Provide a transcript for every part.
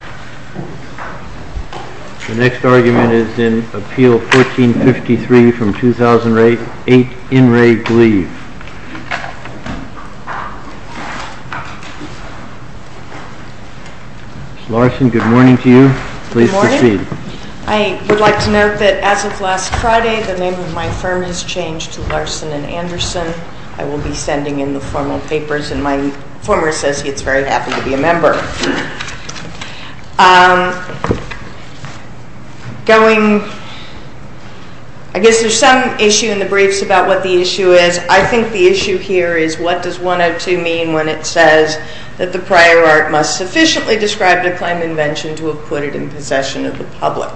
Good morning. I would like to note that as of last Friday, the name of my firm has changed to Larson & Anderson. I will be sending in the formal papers and my former associate is very happy to be a member. I guess there is some issue in the briefs about what the issue is. I think the issue here is what does 102 mean when it says that the prior art must sufficiently describe the claim invention to have put it in possession of the public.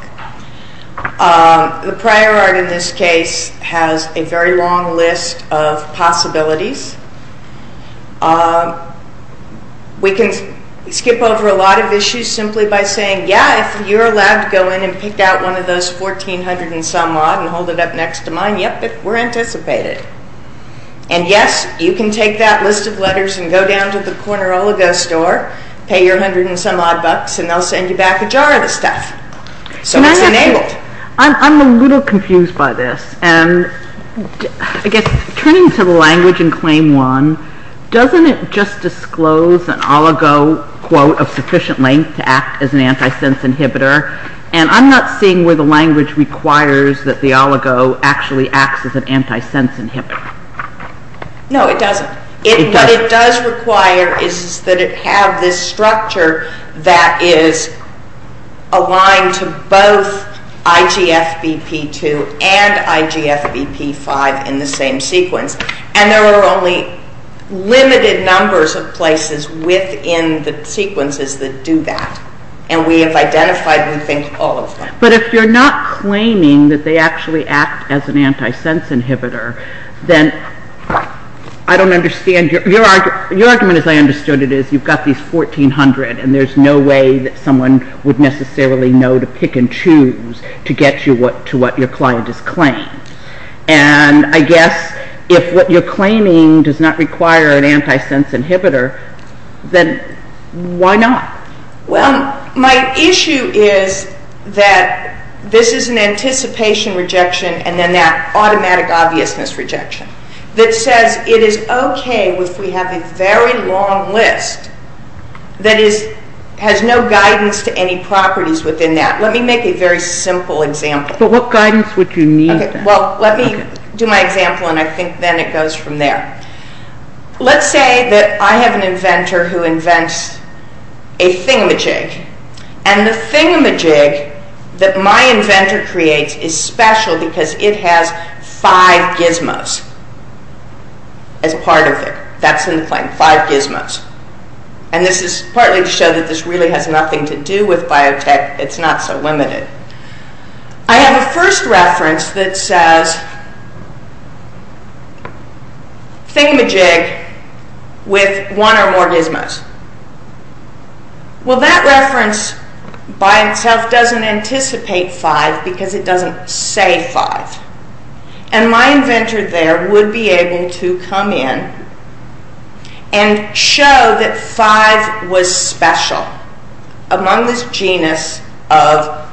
The prior art in this case has a very long list of possibilities. We can skip over a lot of issues simply by saying, yeah, if you are allowed to go in and pick out one of those 1400 and some odd and hold it up next to mine, yep, we are anticipated. And yes, you can take that list of letters and go down to the Cornirologo store, pay your hundred and some odd bucks and they will send you back a jar of the stuff. So it is enabled. I am a little confused by this. Turning to the language in Claim 1, doesn't it just disclose an oligo quote of sufficient length to act as an antisense inhibitor? I am not seeing where the language requires that the oligo actually acts as an antisense inhibitor. No, it doesn't. What it does require is that it have this structure that is aligned to both IGFBP2 and IGFBP5 in the same sequence. And there are only limited numbers of places within the sequences that do that. And we have identified, we think, all of them. But if you are not claiming that they actually act as an antisense inhibitor, then I don't understand. Your argument, as I understood it, is you have got these 1400 and there is no way that someone would necessarily know to pick and choose to get you to what your client is claiming. And I guess if what you are claiming does not require an antisense inhibitor, then why not? Well, my issue is that this is an anticipation rejection and then that automatic obviousness rejection that says it is okay if we have a very long list that has no guidance to any properties within that. Let me make a very simple example. But what guidance would you need? Well, let me do my example and I think then it goes from there. Let's say that I have an inventor who invents a thingamajig. And the thingamajig that my inventor creates is special because it has five gizmos as part of it. That's in the claim, five gizmos. And this is partly to show that this really has nothing to do with biotech. It's not so limited. I have a first reference that says thingamajig with one or more gizmos. Well, that reference by itself doesn't anticipate five because it doesn't say five. And my inventor there would be able to come in and show that five was special among this genus of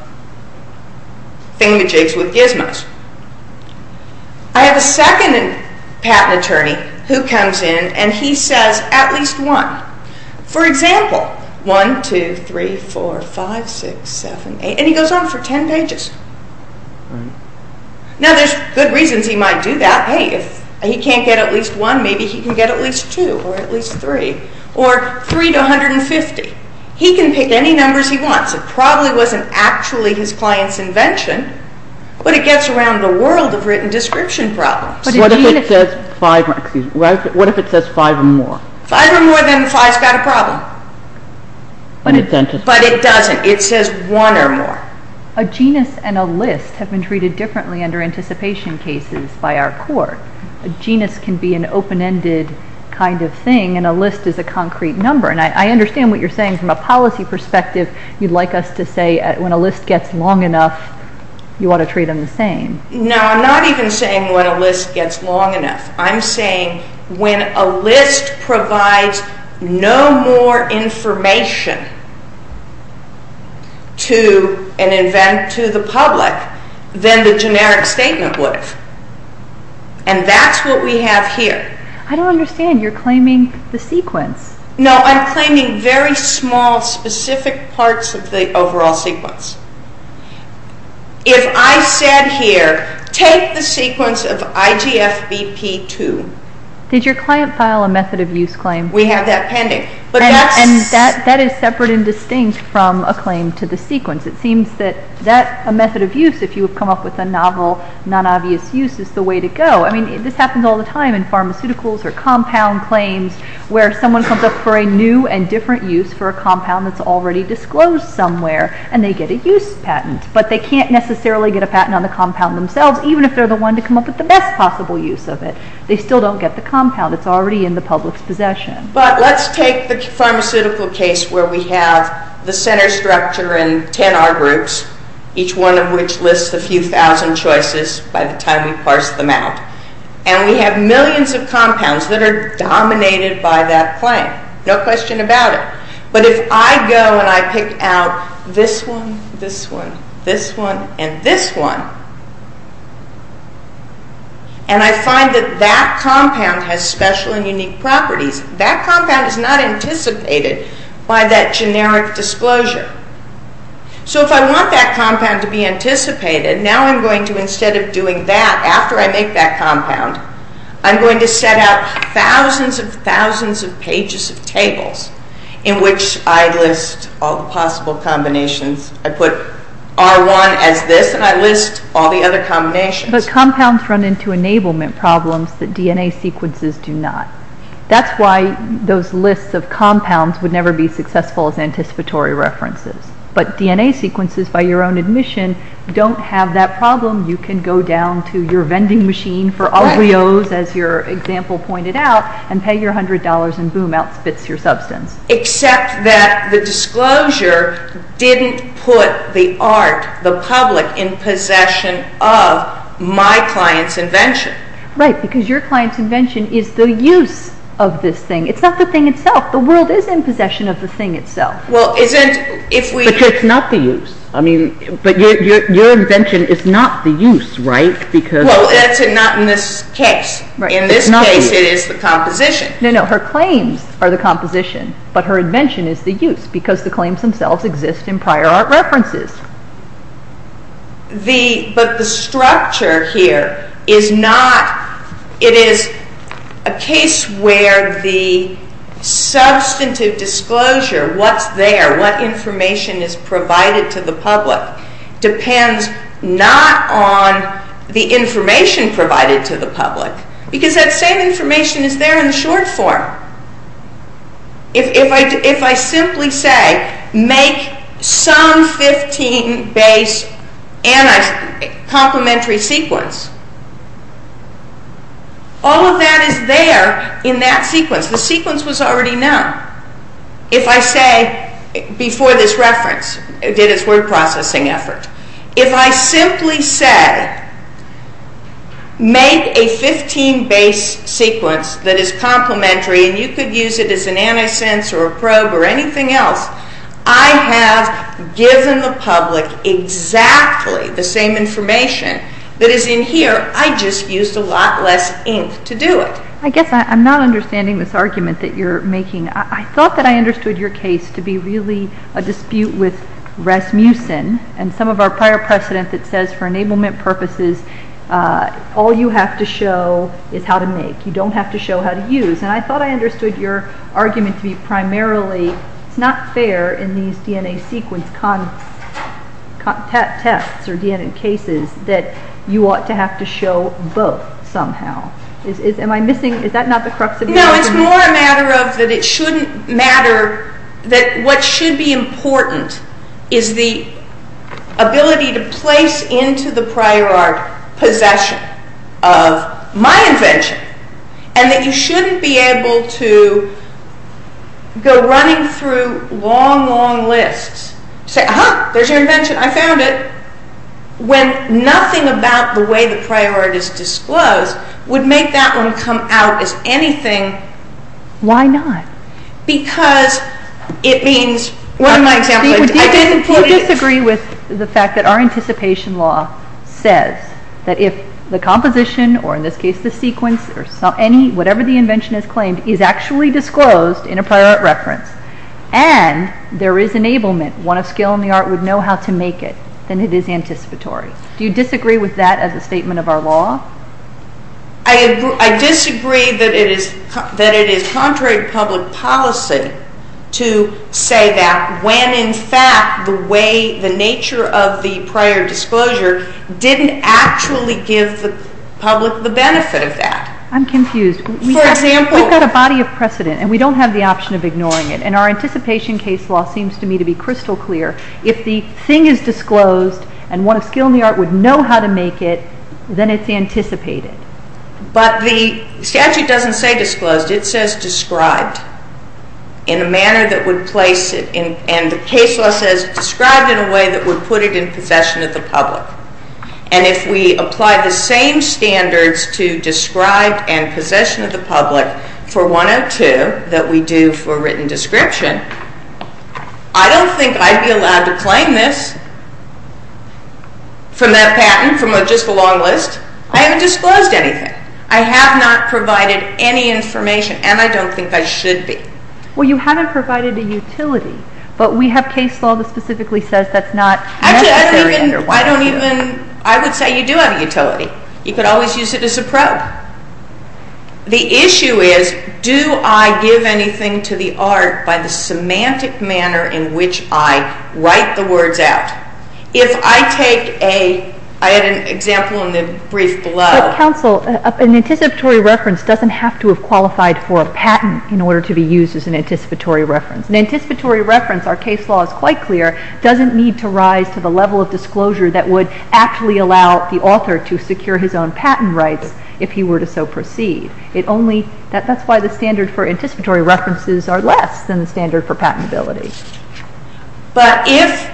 thingamajigs with gizmos. I have a second patent attorney who comes in and he says at least one. For example, one, two, three, four, five, six, seven, eight, and he goes on for ten pages. Now there's good reasons he might do that. Hey, if he can't get at least one, maybe he can get at least two or at least three or three to 150. He can pick any numbers he wants. It probably wasn't actually his client's invention, but it gets around the world of written description problems. What if it says five or more? Five or more, then five's got a problem. But it doesn't. It says one or more. A genus and a list have been treated differently under anticipation cases by our court. A genus can be an open-ended kind of thing and a list is a concrete number. And I understand what you're saying from a policy perspective. You'd like us to say when a list gets long enough, you ought to treat them the same. No, I'm not even saying when a list gets long enough. I'm saying when a list provides no more information to the public than the generic statement would. And that's what we have here. I don't understand. You're claiming the sequence. No, I'm claiming very small specific parts of the overall sequence. If I said here, take the sequence of IGFBP2. Did your client file a method of use claim? We have that pending. And that is separate and distinct from a claim to the sequence. It seems that a method of use, if you have come up with a novel, non-obvious use, is the way to go. I mean, this happens all the time in pharmaceuticals or compound claims where someone comes up for a new and different use for a compound that's already disclosed somewhere and they get a use patent. But they can't necessarily get a patent on the compound themselves, even if they're the one to come up with the best possible use of it. They still don't get the compound. It's already in the public's possession. But let's take the pharmaceutical case where we have the center structure and 10 R groups, each one of which lists a few thousand choices by the time we parse them out. And we have millions of compounds that are dominated by that claim. No question about it. But if I go and I pick out this one, this one, this one, and this one, and I find that that compound has special and unique properties, that compound is not anticipated by that generic disclosure. So if I want that compound to be anticipated, now I'm going to, instead of doing that, after I make that compound, I'm going to set out thousands and thousands of pages of tables in which I list all the possible combinations. I put R1 as this, and I list all the other combinations. But compounds run into enablement problems that DNA sequences do not. That's why those lists of compounds would never be successful as anticipatory references. But DNA sequences, by your own admission, don't have that problem. You can go down to your vending machine for Oreos, as your example pointed out, and pay your $100, and boom, out spits your substance. Except that the disclosure didn't put the art, the public, in possession of my client's invention. Right, because your client's invention is the use of this thing. It's not the thing itself. The world is in possession of the thing itself. But it's not the use. I mean, but your invention is not the use, right? Well, that's not in this case. In this case, it is the composition. No, no, her claims are the composition, but her invention is the use, because the claims themselves exist in prior art references. But the structure here is not, it is a case where the substantive disclosure, what's there, what information is provided to the public, depends not on the information provided to the public, because that same information is there in the short form. If I simply say, make some 15 base complementary sequence, all of that is there in that sequence. The sequence was already known. If I say, before this reference, it did its word processing effort. If I simply say, make a 15 base sequence that is complementary, and you could use it as an antisense or a probe or anything else, I have given the public exactly the same information that is in here. I just used a lot less ink to do it. I guess I'm not understanding this argument that you're making. I thought that I understood your case to be really a dispute with Rasmussen and some of our prior precedent that says, for enablement purposes, all you have to show is how to make. You don't have to show how to use. I thought I understood your argument to be primarily, it's not fair in these DNA sequence tests or DNA cases that you ought to have to show both somehow. Am I missing, is that not the crux of your argument? No, it's more a matter of that it shouldn't matter, that what should be important is the ability to place into the prior art possession of my invention, and that you shouldn't be able to go running through long, long lists, say, aha, there's your invention, I found it, when nothing about the way the prior art is disclosed would make that one come out as anything. Why not? Because it means, one of my examples... Do you disagree with the fact that our anticipation law says that if the composition, or in this case the sequence, or whatever the invention is claimed, is actually disclosed in a prior art reference and there is enablement, one of skill in the art would know how to make it, then it is anticipatory. Do you disagree with that as a statement of our law? I disagree that it is contrary to public policy to say that when in fact the way, the nature of the prior disclosure didn't actually give the public the benefit of that. I'm confused. For example... We've got a body of precedent, and we don't have the option of ignoring it, and our anticipation case law seems to me to be crystal clear. If the thing is disclosed, and one of skill in the art would know how to make it, then it's anticipated. But the statute doesn't say disclosed, it says described in a manner that would place it in... And the case law says described in a way that would put it in possession of the public. And if we apply the same standards to described and possession of the public for 102 that we do for written description, I don't think I'd be allowed to claim this from that patent, from just a long list. I haven't disclosed anything. I have not provided any information, and I don't think I should be. Well, you haven't provided a utility. But we have case law that specifically says that's not necessary. Actually, I don't even... I would say you do have a utility. You could always use it as a probe. The issue is, do I give anything to the art by the semantic manner in which I write the words out? If I take a... I had an example in the brief below. But counsel, an anticipatory reference doesn't have to have qualified for a patent in order to be used as an anticipatory reference. An anticipatory reference, our case law is quite clear, doesn't need to rise to the level of disclosure that would actually allow the author to secure his own patent rights if he were to so proceed. That's why the standard for anticipatory references are less than the standard for patentability. But if...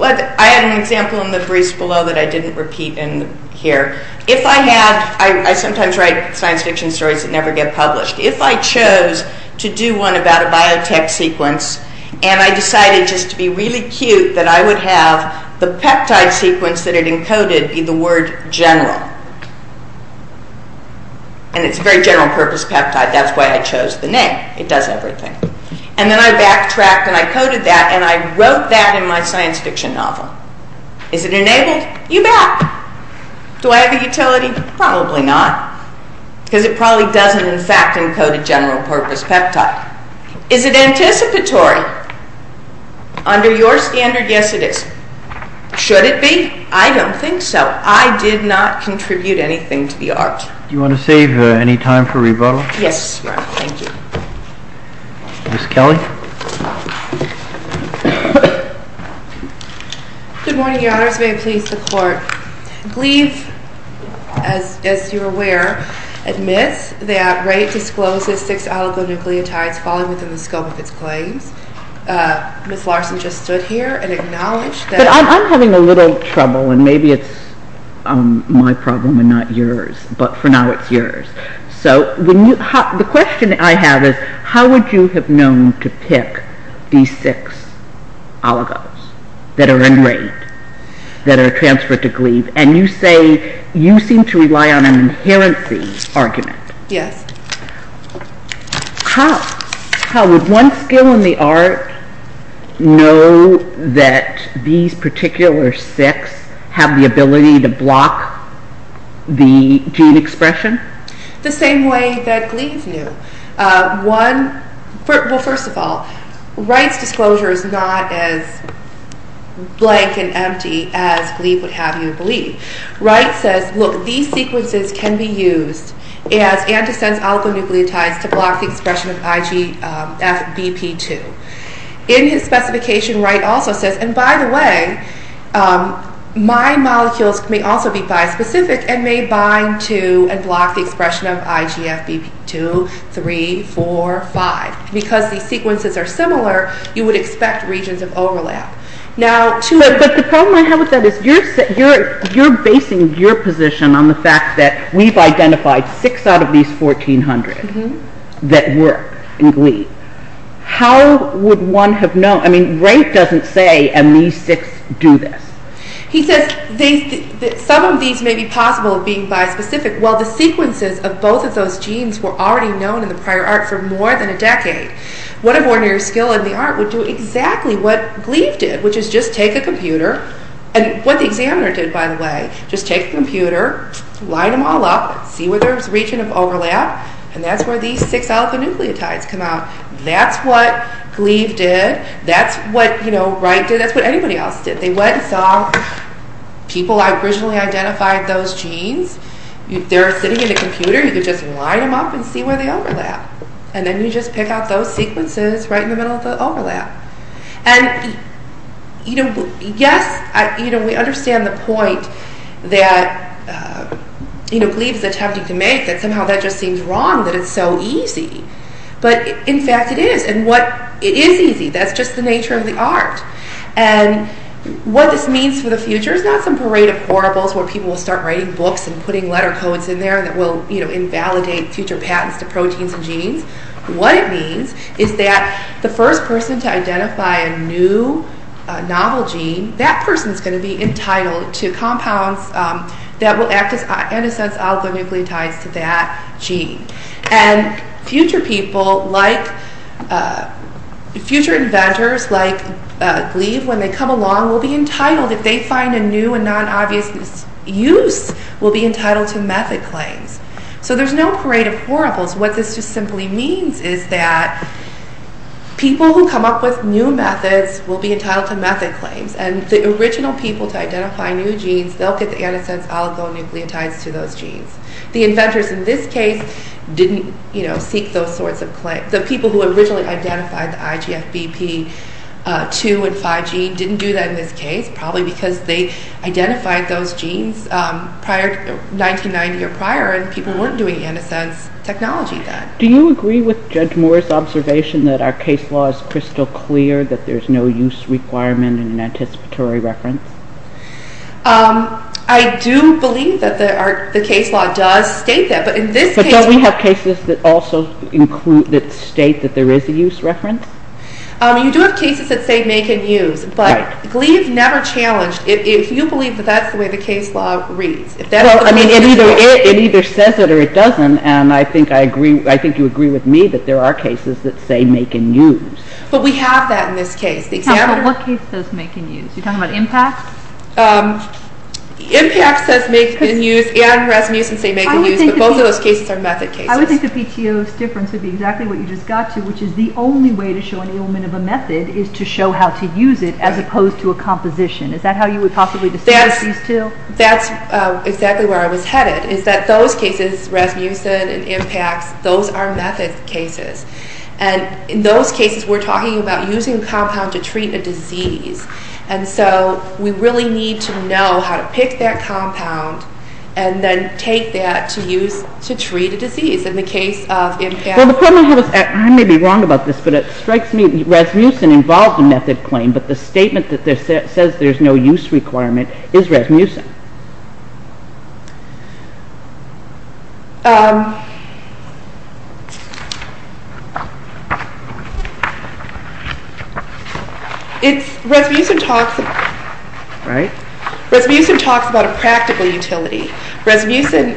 I had an example in the briefs below that I didn't repeat in here. If I had... I sometimes write science fiction stories that never get published. If I chose to do one about a biotech sequence, and I decided just to be really cute that I would have the peptide sequence that it encoded be the word general, and it's a very general purpose peptide, that's why I chose the name. It does everything. And then I backtracked and I coded that, and I wrote that in my science fiction novel. Is it enabled? You bet. Do I have a utility? Probably not. Because it probably doesn't, in fact, encode a general purpose peptide. Is it anticipatory? Under your standard, yes, it is. Should it be? I don't think so. But I did not contribute anything to the art. Do you want to save any time for rebuttal? Yes, Your Honor. Thank you. Ms. Kelly? Good morning, Your Honors. May it please the Court. Gleave, as you're aware, admits that Wright discloses six oligonucleotides falling within the scope of its claims. Ms. Larson just stood here and acknowledged that... But I'm having a little trouble, and maybe it's my problem and not yours, but for now it's yours. So the question I have is, how would you have known to pick these six oligos that are in Wright, that are transferred to Gleave? And you say you seem to rely on an inherency argument. Yes. How would one skill in the art know that these particular six have the ability to block the gene expression? The same way that Gleave knew. Well, first of all, Wright's disclosure is not as blank and empty as Gleave would have you believe. Wright says, look, these sequences can be used as antisense oligonucleotides to block the expression of IgFbp2. In his specification, Wright also says, and by the way, my molecules may also be bispecific and may bind to and block the expression of IgFbp2, 3, 4, 5. Because these sequences are similar, you would expect regions of overlap. But the problem I have with that is you're basing your position on the fact that we've identified six out of these 1,400. Mm-hmm. That work in Gleave. How would one have known? I mean, Wright doesn't say, and these six do this. He says some of these may be possible of being bispecific. Well, the sequences of both of those genes were already known in the prior art for more than a decade. What if ordinary skill in the art would do exactly what Gleave did, which is just take a computer, and what the examiner did, by the way, just take a computer, line them all up, see where there's a region of overlap, and that's where these six alpha-nucleotides come out. That's what Gleave did. That's what, you know, Wright did. That's what anybody else did. They went and saw people that originally identified those genes. They're sitting in a computer. You could just line them up and see where they overlap. And then you just pick out those sequences right in the middle of the overlap. And, you know, yes, you know, we understand the point that, you know, Gleave's attempting to make, that somehow that just seems wrong, that it's so easy. But, in fact, it is, and what... It is easy. That's just the nature of the art. And what this means for the future is not some parade of horribles where people will start writing books and putting letter codes in there that will, you know, invalidate future patents to proteins and genes. What it means is that the first person to identify a new novel gene, that person is going to be entitled to compounds that will act as, in a sense, oligonucleotides to that gene. And future people like... future inventors like Gleave, when they come along, will be entitled, if they find a new and non-obvious use, will be entitled to method claims. So there's no parade of horribles. What this just simply means is that people who come up with new methods will be entitled to method claims. And the original people to identify new genes, they'll get the, in a sense, oligonucleotides to those genes. The inventors in this case didn't, you know, seek those sorts of claims. The people who originally identified the IGFBP2 and 5 gene didn't do that in this case, probably because they identified those genes 1990 or prior, and people weren't doing, in a sense, technology then. Do you agree with Judge Moore's observation that our case law is crystal clear, that there's no use requirement in an anticipatory reference? I do believe that the case law does state that, but in this case... But don't we have cases that also include... that state that there is a use reference? You do have cases that say make and use, but Gleave never challenged... If you believe that that's the way the case law reads... Well, I mean, it either says it or it doesn't, and I think you agree with me that there are cases that say make and use. But we have that in this case. What case does make and use? You're talking about impacts? Impacts says make and use, and resmusin says make and use, but both of those cases are method cases. I would think the PTO's difference would be exactly what you just got to, which is the only way to show an ailment of a method is to show how to use it, as opposed to a composition. Is that how you would possibly distinguish these two? That's exactly where I was headed, is that those cases, resmusin and impacts, those are method cases, and in those cases we're talking about using a compound to treat a disease, and so we really need to know how to pick that compound and then take that to treat a disease. In the case of impacts... I may be wrong about this, but it strikes me resmusin involves a method claim, but the statement that says there's no use requirement is resmusin. Resmusin talks about a practical utility. Resmusin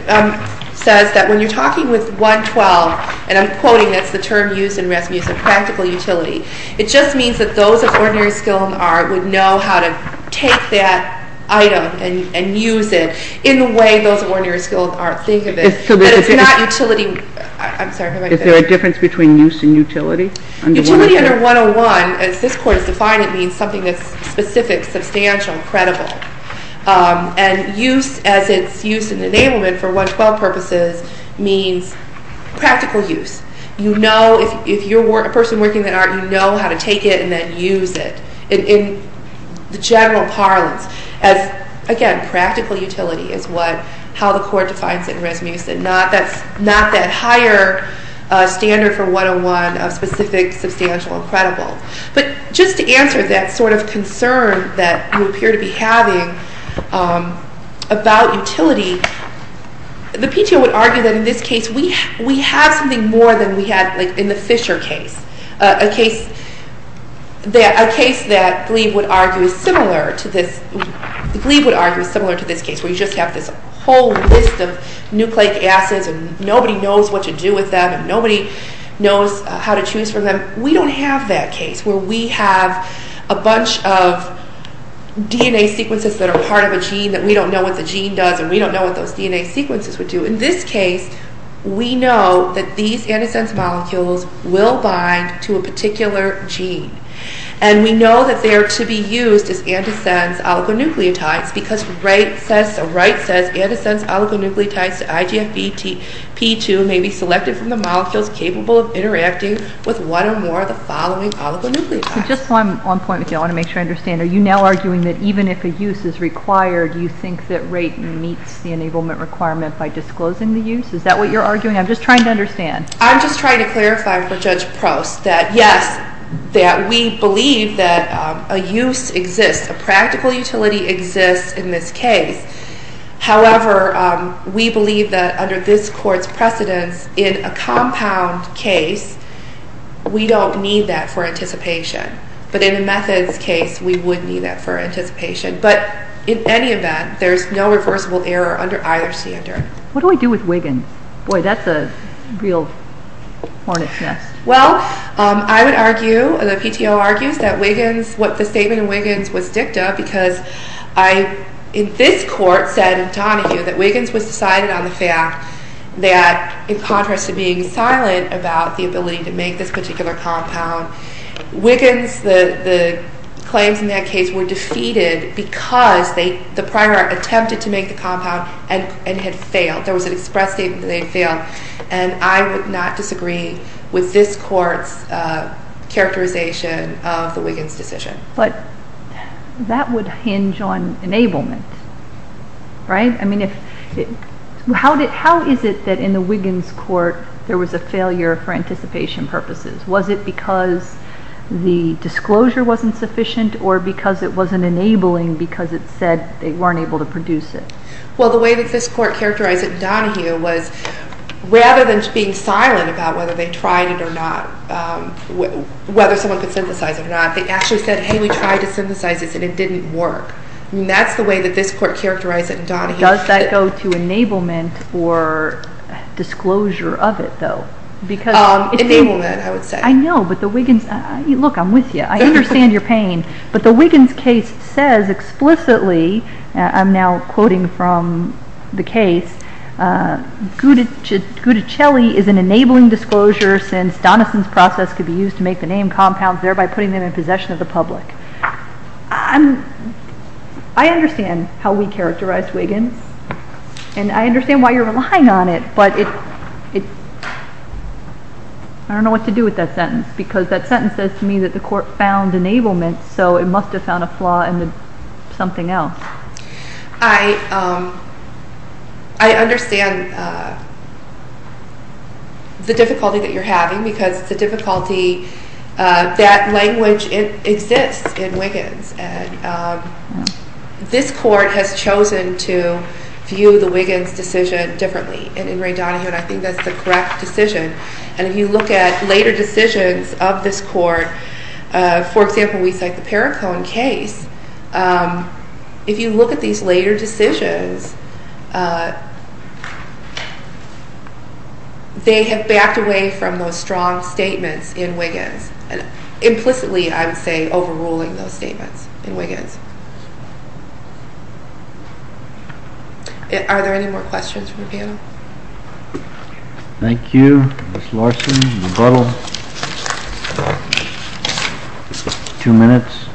says that when you're talking with 112, and I'm quoting, that's the term used in resmusin, practical utility, it just means that those of ordinary skill and art would know how to take that item and use it in the way those of ordinary skill and art think of it, but it's not utility... Is there a difference between use and utility? Utility under 101, as this Court has defined it, means something that's specific, substantial, credible, and use as it's used in enablement for 112 purposes means practical use. If you're a person working in art, you know how to take it and then use it. In general parlance, again, practical utility is how the Court defines it in resmusin. That's not that higher standard for 101 of specific, substantial, and credible. But just to answer that sort of concern that you appear to be having about utility, the PTO would argue that in this case we have something more than we had in the Fisher case, a case that Gleave would argue is similar to this case where you just have this whole list of nucleic acids and nobody knows what to do with them and nobody knows how to choose from them. We don't have that case where we have a bunch of DNA sequences that are part of a gene that we don't know what the gene does and we don't know what those DNA sequences would do. In this case, we know that these antisense molecules will bind to a particular gene. And we know that they're to be used as antisense oligonucleotides because Wright says antisense oligonucleotides to IGFP2 may be selected from the molecules capable of interacting with one or more of the following oligonucleotides. So just one point I want to make sure I understand. Are you now arguing that even if a use is required, you think that Wright meets the enablement requirement by disclosing the use? Is that what you're arguing? I'm just trying to understand. I'm just trying to clarify for Judge Prost that yes, that we believe that a use exists, a practical utility exists in this case. However, we believe that under this court's precedence, in a compound case, we don't need that for anticipation. But in a methods case, we would need that for anticipation. But in any event, there's no reversible error under either standard. What do we do with Wiggins? Boy, that's a real hornet's nest. Well, I would argue, the PTO argues that Wiggins, what the statement in Wiggins was dicta, because this court said in Donahue that Wiggins was decided on the fact that in contrast to being silent about the ability to make this particular compound, Wiggins, the claims in that case, were defeated because the prior attempted to make the compound and had failed. There was an express statement that they had failed. And I would not disagree with this court's characterization of the Wiggins decision. But that would hinge on enablement, right? I mean, how is it that in the Wiggins court there was a failure for anticipation purposes? Was it because the disclosure wasn't sufficient or because it wasn't enabling because it said they weren't able to produce it? Well, the way that this court characterized it in Donahue was rather than being silent about whether they tried it or not, whether someone could synthesize it or not, they actually said, hey, we tried to synthesize this and it didn't work. That's the way that this court characterized it in Donahue. Does that go to enablement or disclosure of it, though? Enablement, I would say. I know, but the Wiggins, look, I'm with you. I understand your pain. But the Wiggins case says explicitly, I'm now quoting from the case, Gutticelli is an enabling disclosure since Donison's process could be used to make the name compounds, thereby putting them in possession of the public. I understand how we characterize Wiggins, and I understand why you're relying on it, but I don't know what to do with that sentence because that sentence says to me that the court found enablement, so it must have found a flaw in something else. I understand the difficulty that you're having because it's a difficulty that language exists in Wiggins. This court has chosen to view the Wiggins decision differently in Ray Donahue, and I think that's the correct decision. And if you look at later decisions of this court, for example, we cite the Perricone case. If you look at these later decisions, they have backed away from those strong statements in Wiggins, and implicitly, I would say, overruling those statements in Wiggins. Are there any more questions from the panel? Thank you. Ms. Larson, rebuttal. Two minutes.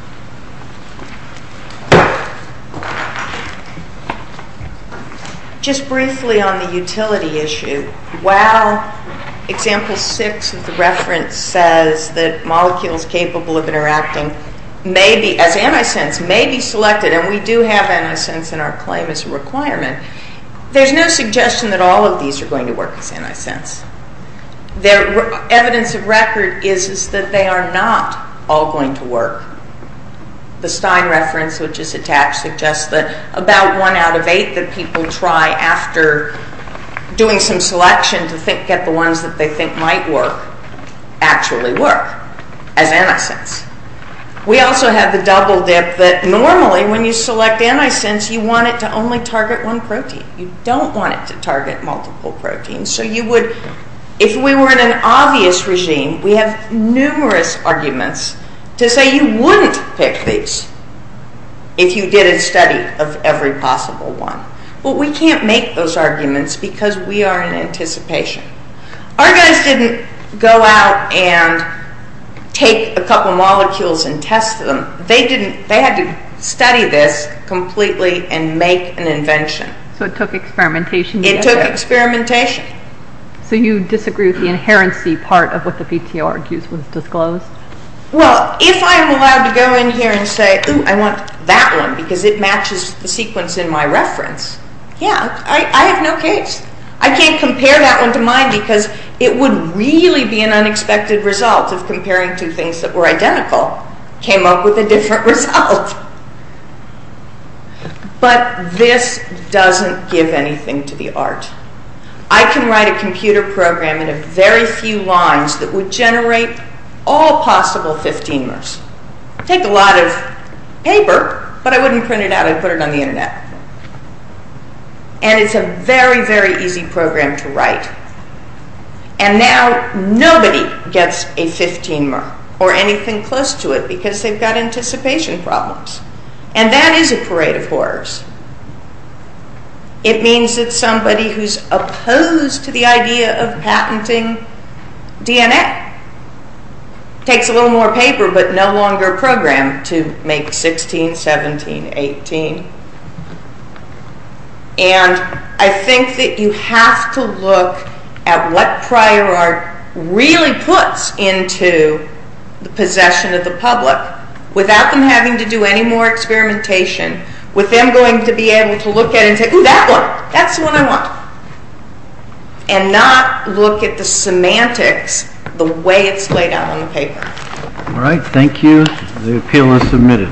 Just briefly on the utility issue, while Example 6 of the reference says that molecules capable of interacting as antisense may be selected, and we do have antisense in our claim as a requirement, there's no suggestion that all of these are going to work as antisense. Evidence of record is that they are not all going to work. The Stein reference, which is attached, suggests that about one out of eight that people try after doing some selection to get the ones that they think might work, actually work as antisense. We also have the double dip that normally when you select antisense, you want it to only target one protein. You don't want it to target multiple proteins. So you would, if we were in an obvious regime, we have numerous arguments to say you wouldn't pick these if you did a study of every possible one. But we can't make those arguments because we are in anticipation. Our guys didn't go out and take a couple molecules and test them. They had to study this completely and make an invention. So it took experimentation. It took experimentation. So you disagree with the inherency part of what the PTO argues was disclosed? Well, if I'm allowed to go in here and say, ooh, I want that one because it matches the sequence in my reference, yeah, I have no case. I can't compare that one to mine because it would really be an unexpected result if comparing two things that were identical came up with a different result. But this doesn't give anything to the art. I can write a computer program in a very few lines that would generate all possible 15-mers. It would take a lot of paper, but I wouldn't print it out. I'd put it on the Internet. And it's a very, very easy program to write. And now nobody gets a 15-mer or anything close to it because they've got anticipation problems. And that is a parade of horrors. It means that somebody who's opposed to the idea of patenting DNA takes a little more paper but no longer a program to make 16, 17, 18. And I think that you have to look at what prior art really puts into the possession of the public without them having to do any more experimentation with them going to be able to look at it and say, ooh, that one. That's the one I want. And not look at the semantics, the way it's laid out on the paper. All right, thank you. The appeal is submitted.